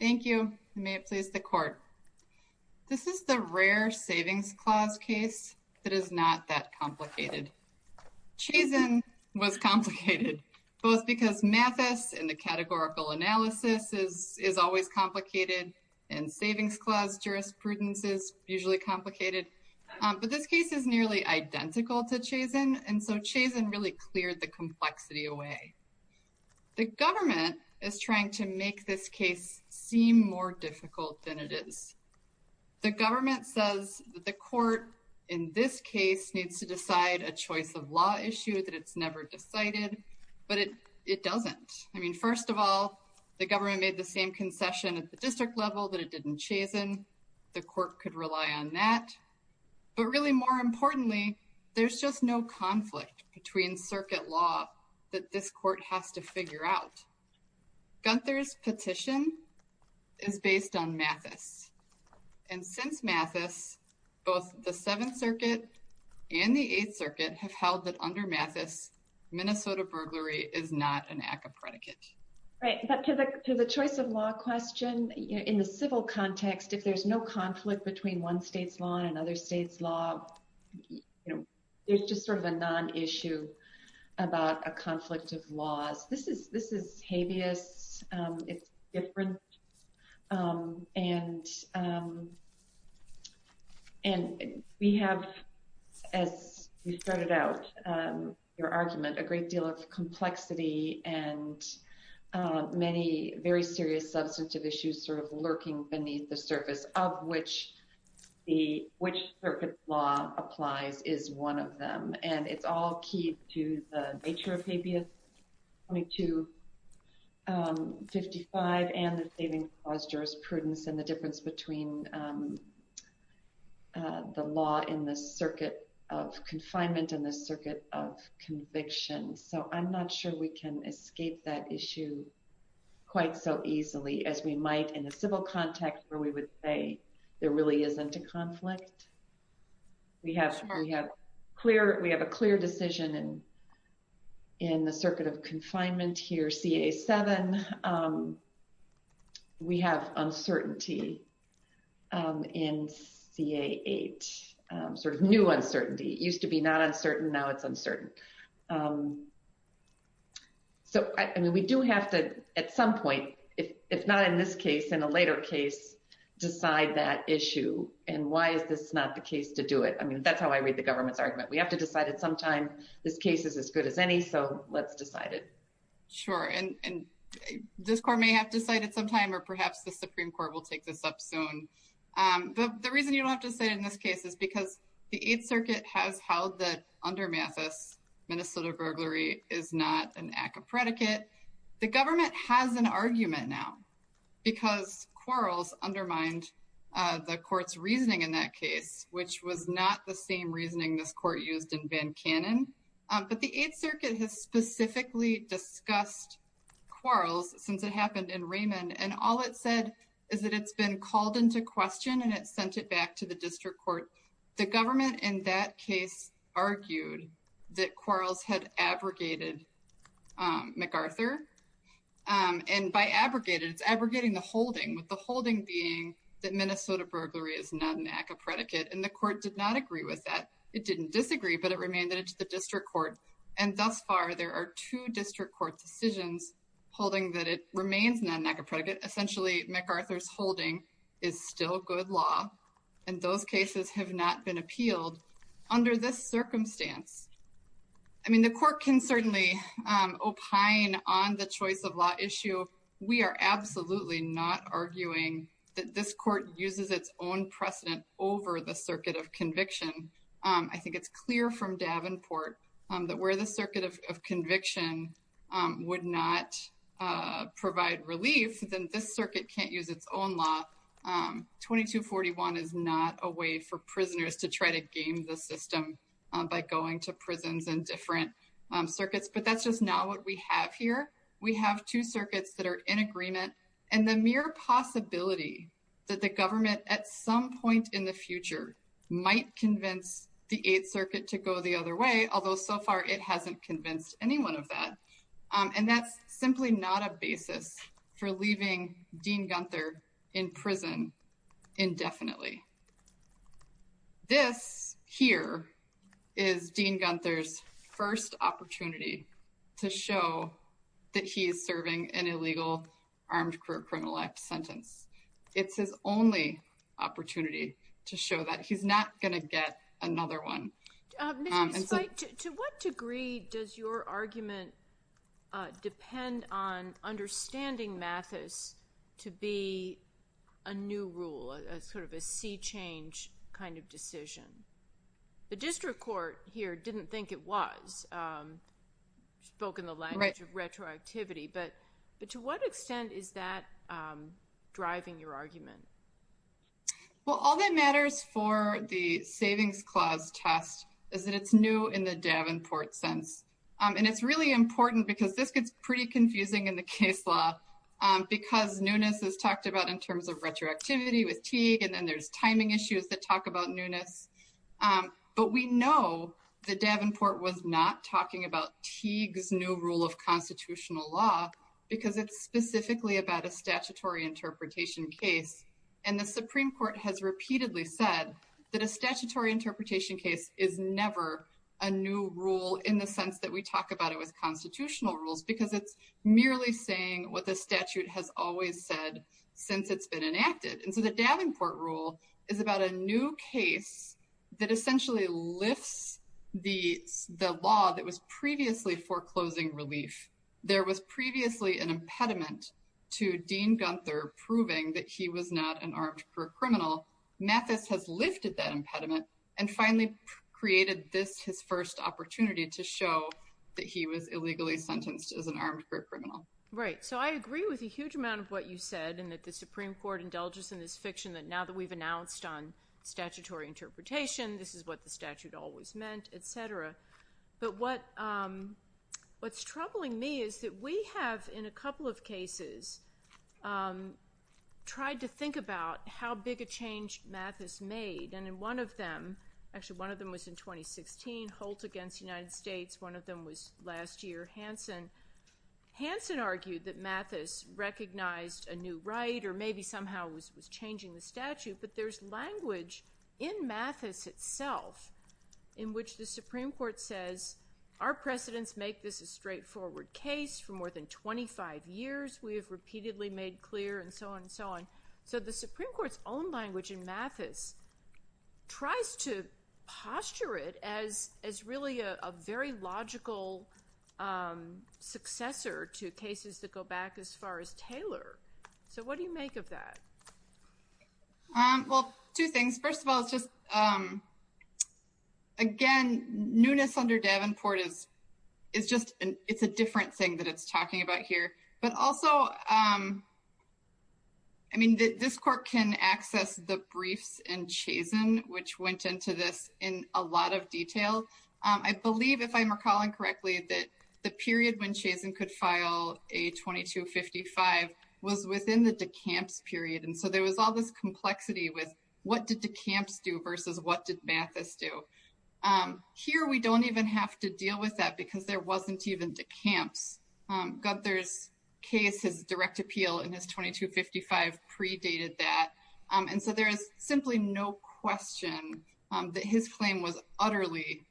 Thank you, and may it please the Court. This is the rare Savings Clause case that is not that complicated. Chazen was complicated, both because Mathis and the categorical analysis is always complicated and Savings Clause jurisprudence is usually complicated, but this case is nearly identical to Chazen, and so Chazen really cleared the complexity away. The government is trying to make this case seem more difficult than it is. The government says that the court in this case needs to decide a choice of law issue that it's never decided, but it doesn't. I mean, first of all, the government made the same concession at the district level that it did in Chazen. The court could rely on that, but really more importantly, there's just no conflict between circuit law that this court has to figure out. Guenther's petition is based on Mathis, and since Mathis, both the Seventh Circuit and the Eighth Circuit have held that under Mathis, Minnesota burglary is not an act of predicate. Right, but to the choice of law question, in the civil context, if there's no conflict between one state's law and another state's law, there's just sort of a non-issue about a conflict of laws. This is habeas. It's different, and we have, as you started out your argument, a great deal of complexity and many very serious substantive issues sort of lurking beneath the surface of which the which circuit law applies is one of them, and it's all key to the nature of habeas. 2255 and the saving clause jurisprudence and the difference between the law in the circuit of confinement and the circuit of conviction, so I'm not sure we can escape that issue quite so easily as we might in the civil context where we would say there really isn't a conflict. We have a clear decision in the circuit of confinement here, CA7. We have uncertainty in CA8, sort of new uncertainty. It used to be not uncertain. Now it's uncertain. So we do have to, at some point, if not in this case, in a later case, decide that issue and why is this not the case to do it. I mean, that's how I read the government's argument. We have to decide it sometime. This case is as good as any, so let's decide it. Sure, and this court may have decided sometime, or perhaps the Supreme Court will take this up soon. The reason you don't have to say in this case is because the Eighth Circuit has held that under Mathis, Minnesota burglary is not an act of predicate. The government has an argument now because Quarles undermined the court's reasoning in that case, which was not the same reasoning this court used in Van Cannon, but the Eighth Circuit has specifically discussed Quarles since it happened in Raymond, and all it said is that it's been called into question and it sent it back to the district court. The government in that case argued that Quarles had abrogated MacArthur, and by abrogated, it's abrogating the holding, with the holding being that Minnesota burglary is not an act of predicate, and the court did not agree with that. It didn't disagree, but it remained that it's the district court, and thus far, there are two district court decisions holding that it remains not an act of predicate. Essentially, MacArthur's holding is still good law, and those cases have not been appealed under this circumstance. I mean, the court can certainly opine on the choice of law issue. We are absolutely not arguing that this court uses its own precedent over the Circuit of Conviction. I think it's clear from Davenport that where the Circuit of Conviction would not provide relief, then this circuit can't use its own law. 2241 is not a way for prisoners to try to game the system by going to prisons and different circuits, but that's just not what we have here. We have two circuits that are in agreement, and the mere possibility that the government at some point in the future might convince the Eighth Circuit to go the other way, although so far, it hasn't convinced anyone of that, and that's simply not a basis. For leaving Dean Gunther in prison indefinitely, this here is Dean Gunther's first opportunity to show that he is serving an illegal armed criminal act sentence. It's his only opportunity to show that. He's not going to get another one. Ms. Spike, to what degree does your argument depend on understanding Mathis to be a new rule, a sort of a sea change kind of decision? The district court here didn't think it was, spoke in the language of retroactivity, but to what extent is that driving your argument? Well, all that matters for the Savings Clause test is that it's new in the Davenport sense, and it's really important because this gets pretty confusing in the case law, because newness is talked about in terms of retroactivity with Teague, and then there's timing issues that talk about newness, but we know that Davenport was not talking about Teague's new rule of constitutional law because it's specifically about a statutory interpretation case. And the Supreme Court has repeatedly said that a statutory interpretation case is never a new rule in the sense that we talk about it with constitutional rules because it's merely saying what the statute has always said since it's been enacted. And so the Davenport rule is about a new case that essentially lifts the law that was previously foreclosing relief. There was previously an impediment to Dean Gunther proving that he was not an armed group criminal. Mathis has lifted that impediment and finally created this his first opportunity to show that he was illegally sentenced as an armed group criminal. Right. So I agree with a huge amount of what you said, and that the Supreme Court indulges in this fiction that now that we've announced on statutory interpretation, this is what the statute always meant, et cetera. But what's troubling me is that we have, in a couple of cases, tried to think about how big a change Mathis made. And in one of them, actually one of them was in 2016, Holt against the United States. One of them was last year, Hansen. Hansen argued that Mathis recognized a new right or maybe somehow was changing the statute. But there's language in Mathis itself in which the Supreme Court says, our precedents make this a straightforward case for more than 25 years. We have repeatedly made clear and so on and so on. So the Supreme Court's own language in Mathis tries to posture it as really a very logical successor to cases that go back as far as Taylor. So what do you make of that? Well, two things. First of all, it's just, again, newness under Davenport is just, it's a different thing that it's talking about here. But also, I mean, this court can access the briefs in Chazen, which went into this in a lot of detail. I believe, if I'm recalling correctly, that the period when Chazen could file a 2255 was within the de Camp's period. So there was all this complexity with what did de Camp's do versus what did Mathis do. Here, we don't even have to deal with that because there wasn't even de Camp's. Gunther's case, his direct appeal in his 2255 predated that. And so there is simply no question that his claim was utterly,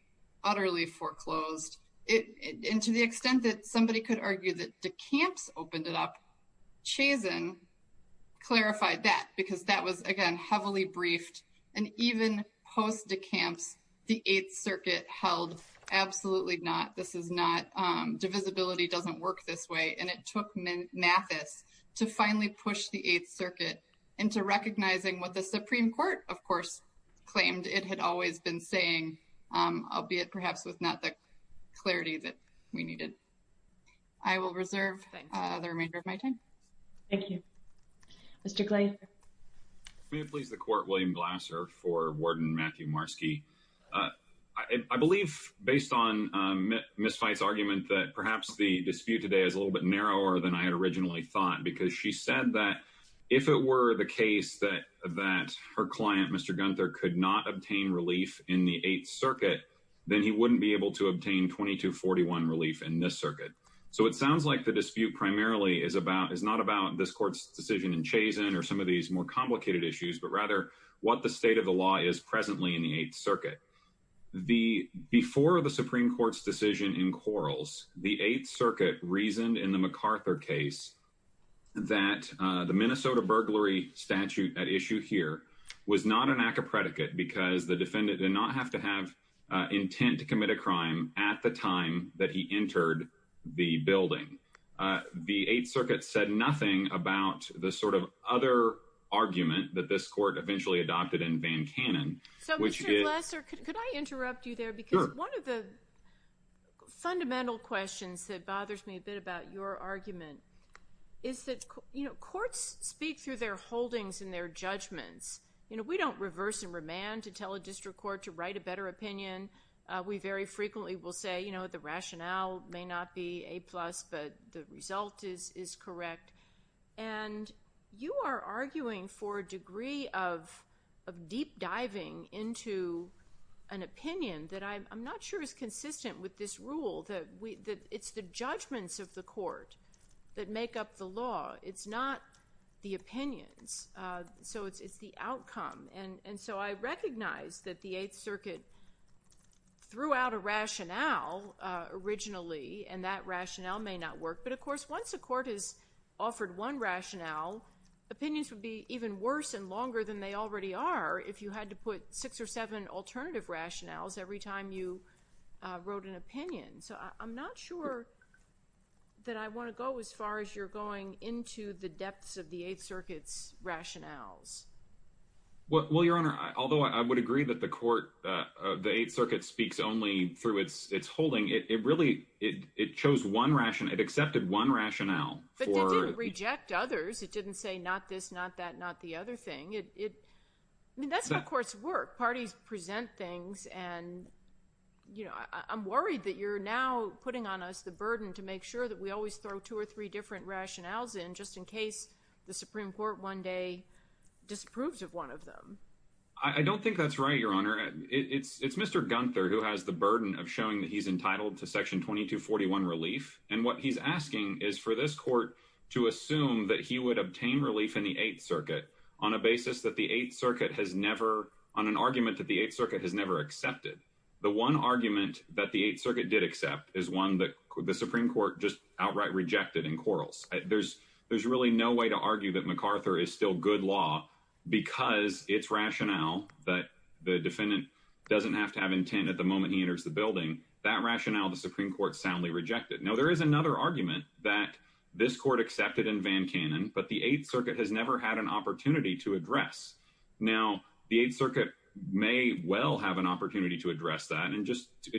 utterly foreclosed. And to the extent that somebody could argue that de Camp's opened it up, Chazen clarified that because that was, again, heavily briefed. And even post de Camp's, the Eighth Circuit held absolutely not. This is not, divisibility doesn't work this way. And it took Mathis to finally push the Eighth Circuit into recognizing what the Supreme Court, of course, claimed it had always been saying, albeit perhaps with not the clarity that we needed. I will reserve the remainder of my time. Thank you. Mr. Glaser. May it please the Court, William Glaser for Warden Matthew Marski. I believe, based on Ms. Feist's argument, that perhaps the dispute today is a little bit narrower than I had originally thought. Because she said that if it were the case that her client, Mr. Gunther, could not obtain relief in the Eighth Circuit, then he wouldn't be able to obtain 2241 relief in this circuit. So it sounds like the dispute primarily is about, is not about this Court's decision in Chazen or some of these more complicated issues, but rather what the state of the law is presently in the Eighth Circuit. The, before the Supreme Court's decision in Quarles, the Eighth Circuit reasoned in the MacArthur case that the Minnesota burglary statute at issue here was not an act of predicate because the defendant did not have to have intent to commit a crime at the time that he entered the building. The Eighth Circuit said nothing about the sort of other argument that this Court eventually adopted in Van Cannon. So, Mr. Glaser, could I interrupt you there? Sure. Because one of the fundamental questions that bothers me a bit about your argument is that, you know, courts speak through their holdings and their judgments. You know, we don't reverse and remand to tell a district court to write a better opinion. We very frequently will say, you know, the rationale may not be A plus, but the result is correct. And you are arguing for a degree of deep diving into an opinion that I'm not sure is consistent with this rule, that it's the judgments of the court that make up the law. It's not the opinions. So it's the outcome. And so I recognize that the Eighth Circuit threw out a rationale originally, and that rationale may not work. But, of course, once a court has offered one rationale, opinions would be even worse and longer than they already are if you had to put six or seven alternative rationales every time you wrote an opinion. So I'm not sure that I want to go as far as you're going into the depths of the Eighth Circuit's rationales. Well, Your Honor, although I would agree that the court, the Eighth Circuit speaks only through its holding, it really, it chose one rationale, it accepted one rationale. But it didn't reject others. It didn't say not this, not that, not the other thing. I mean, that's how courts work. Parties present things and, you know, I'm worried that you're now putting on us the burden to make sure that we always throw two or three different rationales in just in case the Supreme Court one day disapproves of one of them. I don't think that's right, Your Honor. It's Mr. Gunther who has the burden of showing that he's entitled to Section 2241 relief. And what he's asking is for this court to assume that he would obtain relief in the Eighth Circuit on a basis that the Eighth Circuit has never, on an argument that the Eighth Circuit has never accepted. The one argument that the Eighth Circuit did accept is one that the Supreme Court just outright rejected in quarrels. There's really no way to argue that MacArthur is still good law because its rationale that the defendant doesn't have to have intent at the moment he enters the building, that rationale the Supreme Court soundly rejected. Now, there is another argument that this court accepted in Van Cannon, but the Eighth Circuit has never had an opportunity to address. Now, the Eighth Circuit may well have an opportunity to address that.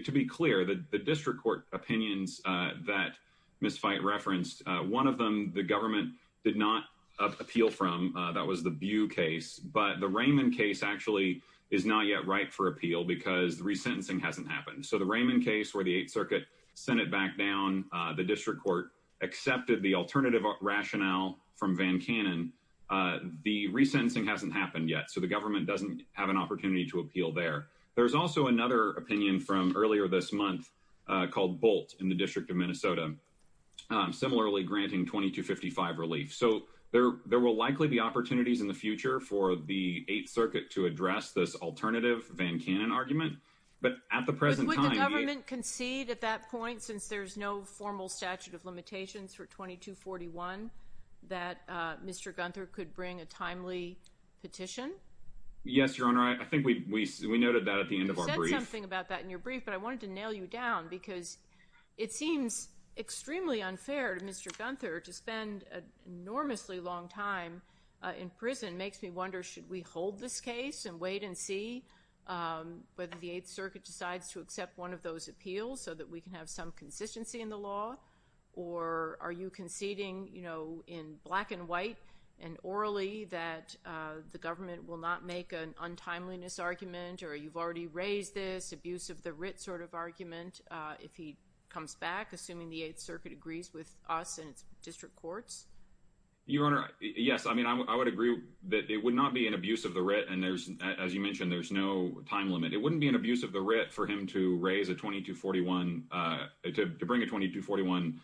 To be clear, the district court opinions that Ms. Fite referenced, one of them the government did not appeal from, that was the Bew case. But the Raymond case actually is not yet ripe for appeal because the resentencing hasn't happened. So the Raymond case where the Eighth Circuit sent it back down, the district court accepted the alternative rationale from Van Cannon, the resentencing hasn't happened yet. So the government doesn't have an opportunity to appeal there. There's also another opinion from earlier this month called Bolt in the District of Minnesota. Similarly, granting 2255 relief. So there will likely be opportunities in the future for the Eighth Circuit to address this alternative Van Cannon argument. But at the present time- Would the government concede at that point, since there's no formal statute of limitations for 2241, that Mr. Gunther could bring a timely petition? Yes, Your Honor. I think we noted that at the end of our brief. You said something about that in your brief, but I wanted to nail you down because it seems extremely unfair to Mr. Gunther to spend an enormously long time in prison. Makes me wonder, should we hold this case and wait and see whether the Eighth Circuit decides to accept one of those appeals so that we can have some consistency in the law? Or are you conceding, you know, in black and white and orally that the government will not make an untimeliness argument or you've already raised this abuse of the writ sort of argument if he comes back, assuming the Eighth Circuit agrees with us and its district courts? Your Honor, yes. I mean, I would agree that it would not be an abuse of the writ. And there's, as you mentioned, there's no time limit. It wouldn't be an abuse of the writ for him to raise a 2241, to bring a 2241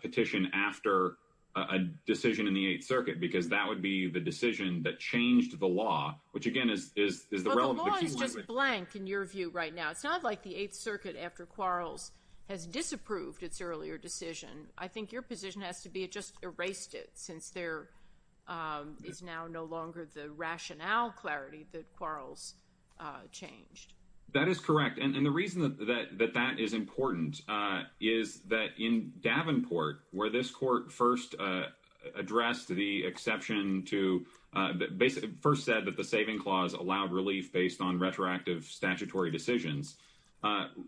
petition after a decision in the Eighth Circuit, because that would be the decision that changed the law, which again is, is, is the relevant. The law is just blank in your view right now. It's not like the Eighth Circuit after Quarles has disapproved its earlier decision. I think your position has to be it just erased it since there is now no longer the rationale clarity that Quarles changed. That is correct. And the reason that that that that is important is that in Davenport, where this court first addressed the exception to basically first said that the saving clause allowed relief based on retroactive statutory decisions.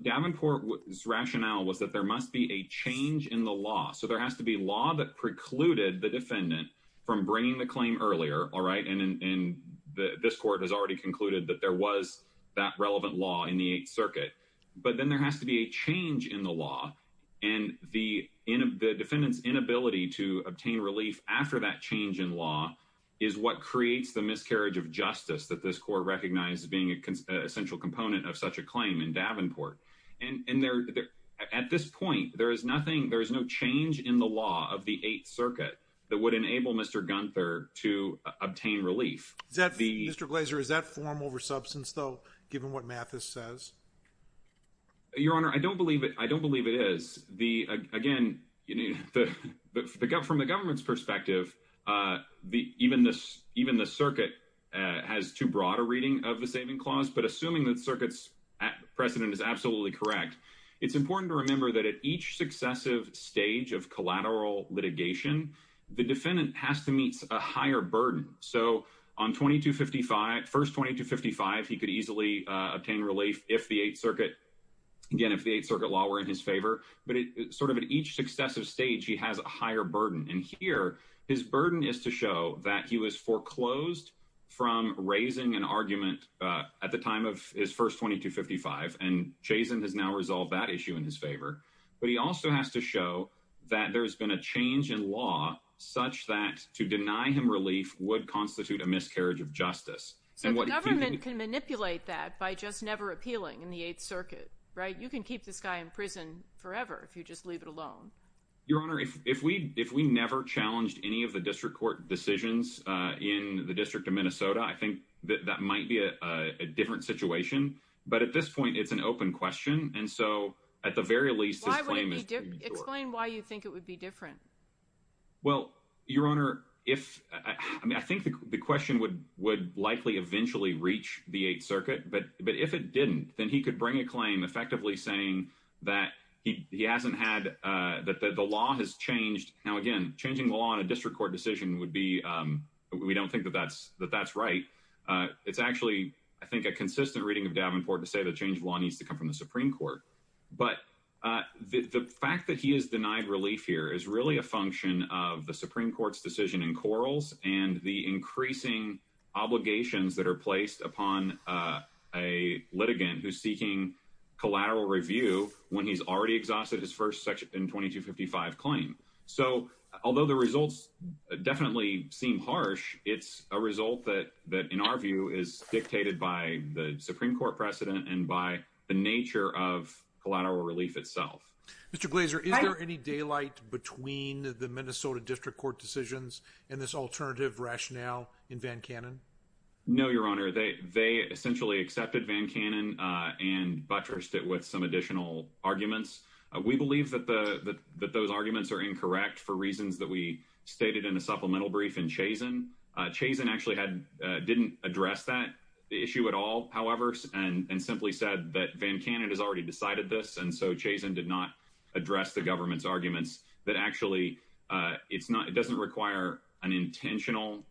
Davenport's rationale was that there must be a change in the law. So there has to be law that precluded the defendant from bringing the claim earlier. All right. And this court has already concluded that there was that relevant law in the Eighth Circuit. But then there has to be a change in the law and the in the defendant's inability to obtain relief after that change in law is what creates the miscarriage of justice that this court recognized as being a central component of such a claim in Davenport. And at this point, there is nothing, there is no change in the law of the Eighth Circuit that would enable Mr. Gunther to obtain relief. Is that the Mr. Glazer? Is that form over substance, though, given what Mathis says? Your Honor, I don't believe it. I don't believe it is the again, you need to pick up from the government's perspective. The even this even the circuit has too broad a reading of the saving clause. But assuming that circuits precedent is absolutely correct, it's important to remember that at each successive stage of collateral litigation, the defendant has to meet a higher burden. So on 2255, first 2255, he could easily obtain relief if the Eighth Circuit. Again, if the Eighth Circuit law were in his favor, but sort of at each successive stage, he has a higher burden. And here, his burden is to show that he was foreclosed from raising an argument at the time of his first 2255. And Jason has now resolved that issue in his favor. But he also has to show that there's been a change in law such that to deny him relief would constitute a miscarriage of justice. So the government can manipulate that by just never appealing in the Eighth Circuit, right? You can keep this guy in prison forever if you just leave it alone. Your Honor, if we if we never challenged any of the district court decisions in the District of Minnesota, I think that might be a different situation. But at this point, it's an open question. And so at the very least, his claim is. Explain why you think it would be different. Well, Your Honor, if I think the question would would likely eventually reach the Eighth Circuit, but but if it didn't, then he could bring a claim effectively saying that he hasn't had that the law has changed. Now, again, changing the law in a district court decision would be we don't think that that's that that's right. It's actually, I think, a consistent reading of Davenport to say the change of law needs to come from the Supreme Court. But the fact that he is denied relief here is really a function of the Supreme Court's decision in quarrels and the increasing obligations that are placed upon a litigant who's seeking collateral review when he's already exhausted his first section in 2255 claim. So although the results definitely seem harsh, it's a result that that, in our view, is of collateral relief itself. Mr. Glaser, is there any daylight between the Minnesota District Court decisions and this alternative rationale in Van Cannon? No, Your Honor, they they essentially accepted Van Cannon and buttressed it with some additional arguments. We believe that the that those arguments are incorrect for reasons that we stated in a supplemental brief in Chazen. Chazen actually had didn't address that issue at all. And simply said that Van Cannon has already decided this. And so Chazen did not address the government's arguments that actually it's not it doesn't require an intentional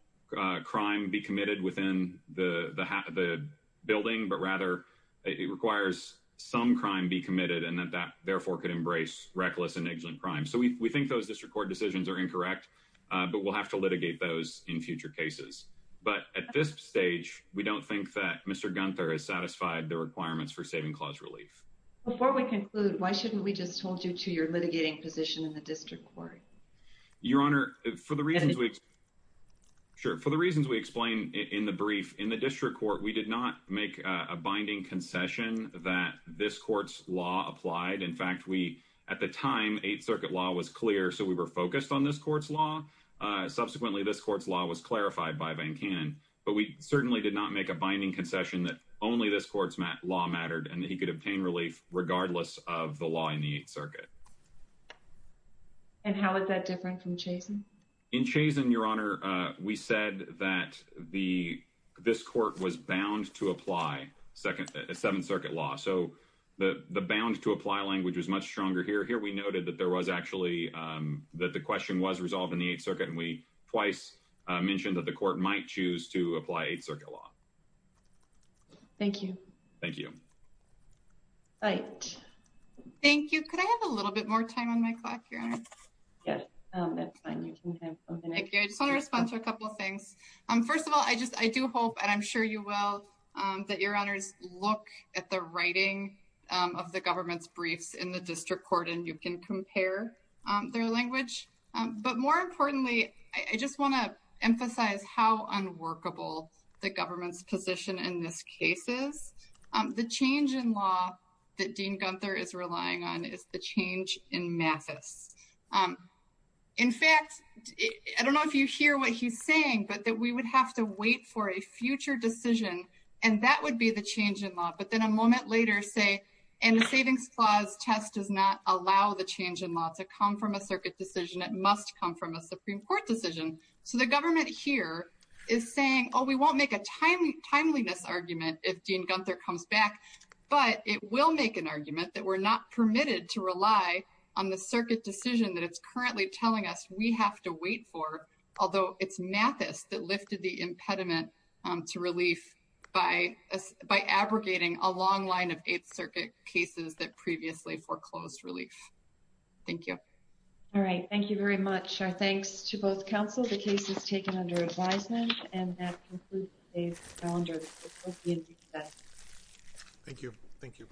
crime be committed within the building, but rather it requires some crime be committed and that that therefore could embrace reckless and ignorant crime. So we think those district court decisions are incorrect, but we'll have to litigate those in future cases. But at this stage, we don't think that Mr. Gunther has satisfied the requirements for saving clause relief. Before we conclude, why shouldn't we just hold you to your litigating position in the district court? Your Honor, for the reasons we. Sure, for the reasons we explain in the brief in the district court, we did not make a binding concession that this court's law applied. In fact, we at the time, Eighth Circuit law was clear, so we were focused on this court's law. Subsequently, this court's law was clarified by Van Cannon, but we certainly did not make a binding concession that only this court's law mattered and that he could obtain relief regardless of the law in the Eighth Circuit. And how is that different from Chazen? In Chazen, Your Honor, we said that this court was bound to apply Seventh Circuit law. So the bound to apply language was much stronger here. We noted that there was actually that the question was resolved in the Eighth Circuit, and we twice mentioned that the court might choose to apply Eighth Circuit law. Thank you. Thank you. Thank you. Could I have a little bit more time on my clock, Your Honor? Yes, that's fine. You can have a minute. Thank you. I just want to respond to a couple of things. First of all, I just I do hope, and I'm sure you will, that Your Honors look at the writing of the government's briefs in the district court and you can compare their language. But more importantly, I just want to emphasize how unworkable the government's position in this case is. The change in law that Dean Gunther is relying on is the change in Mathis. In fact, I don't know if you hear what he's saying, but that we would have to wait for a savings clause test does not allow the change in law to come from a circuit decision. It must come from a Supreme Court decision. So the government here is saying, oh, we won't make a timeliness argument if Dean Gunther comes back, but it will make an argument that we're not permitted to rely on the circuit decision that it's currently telling us we have to wait for, although it's Mathis that lifted the cases that previously foreclosed relief. Thank you. All right. Thank you very much. Our thanks to both counsel. The case is taken under advisement and that concludes today's calendar. Thank you. Thank you.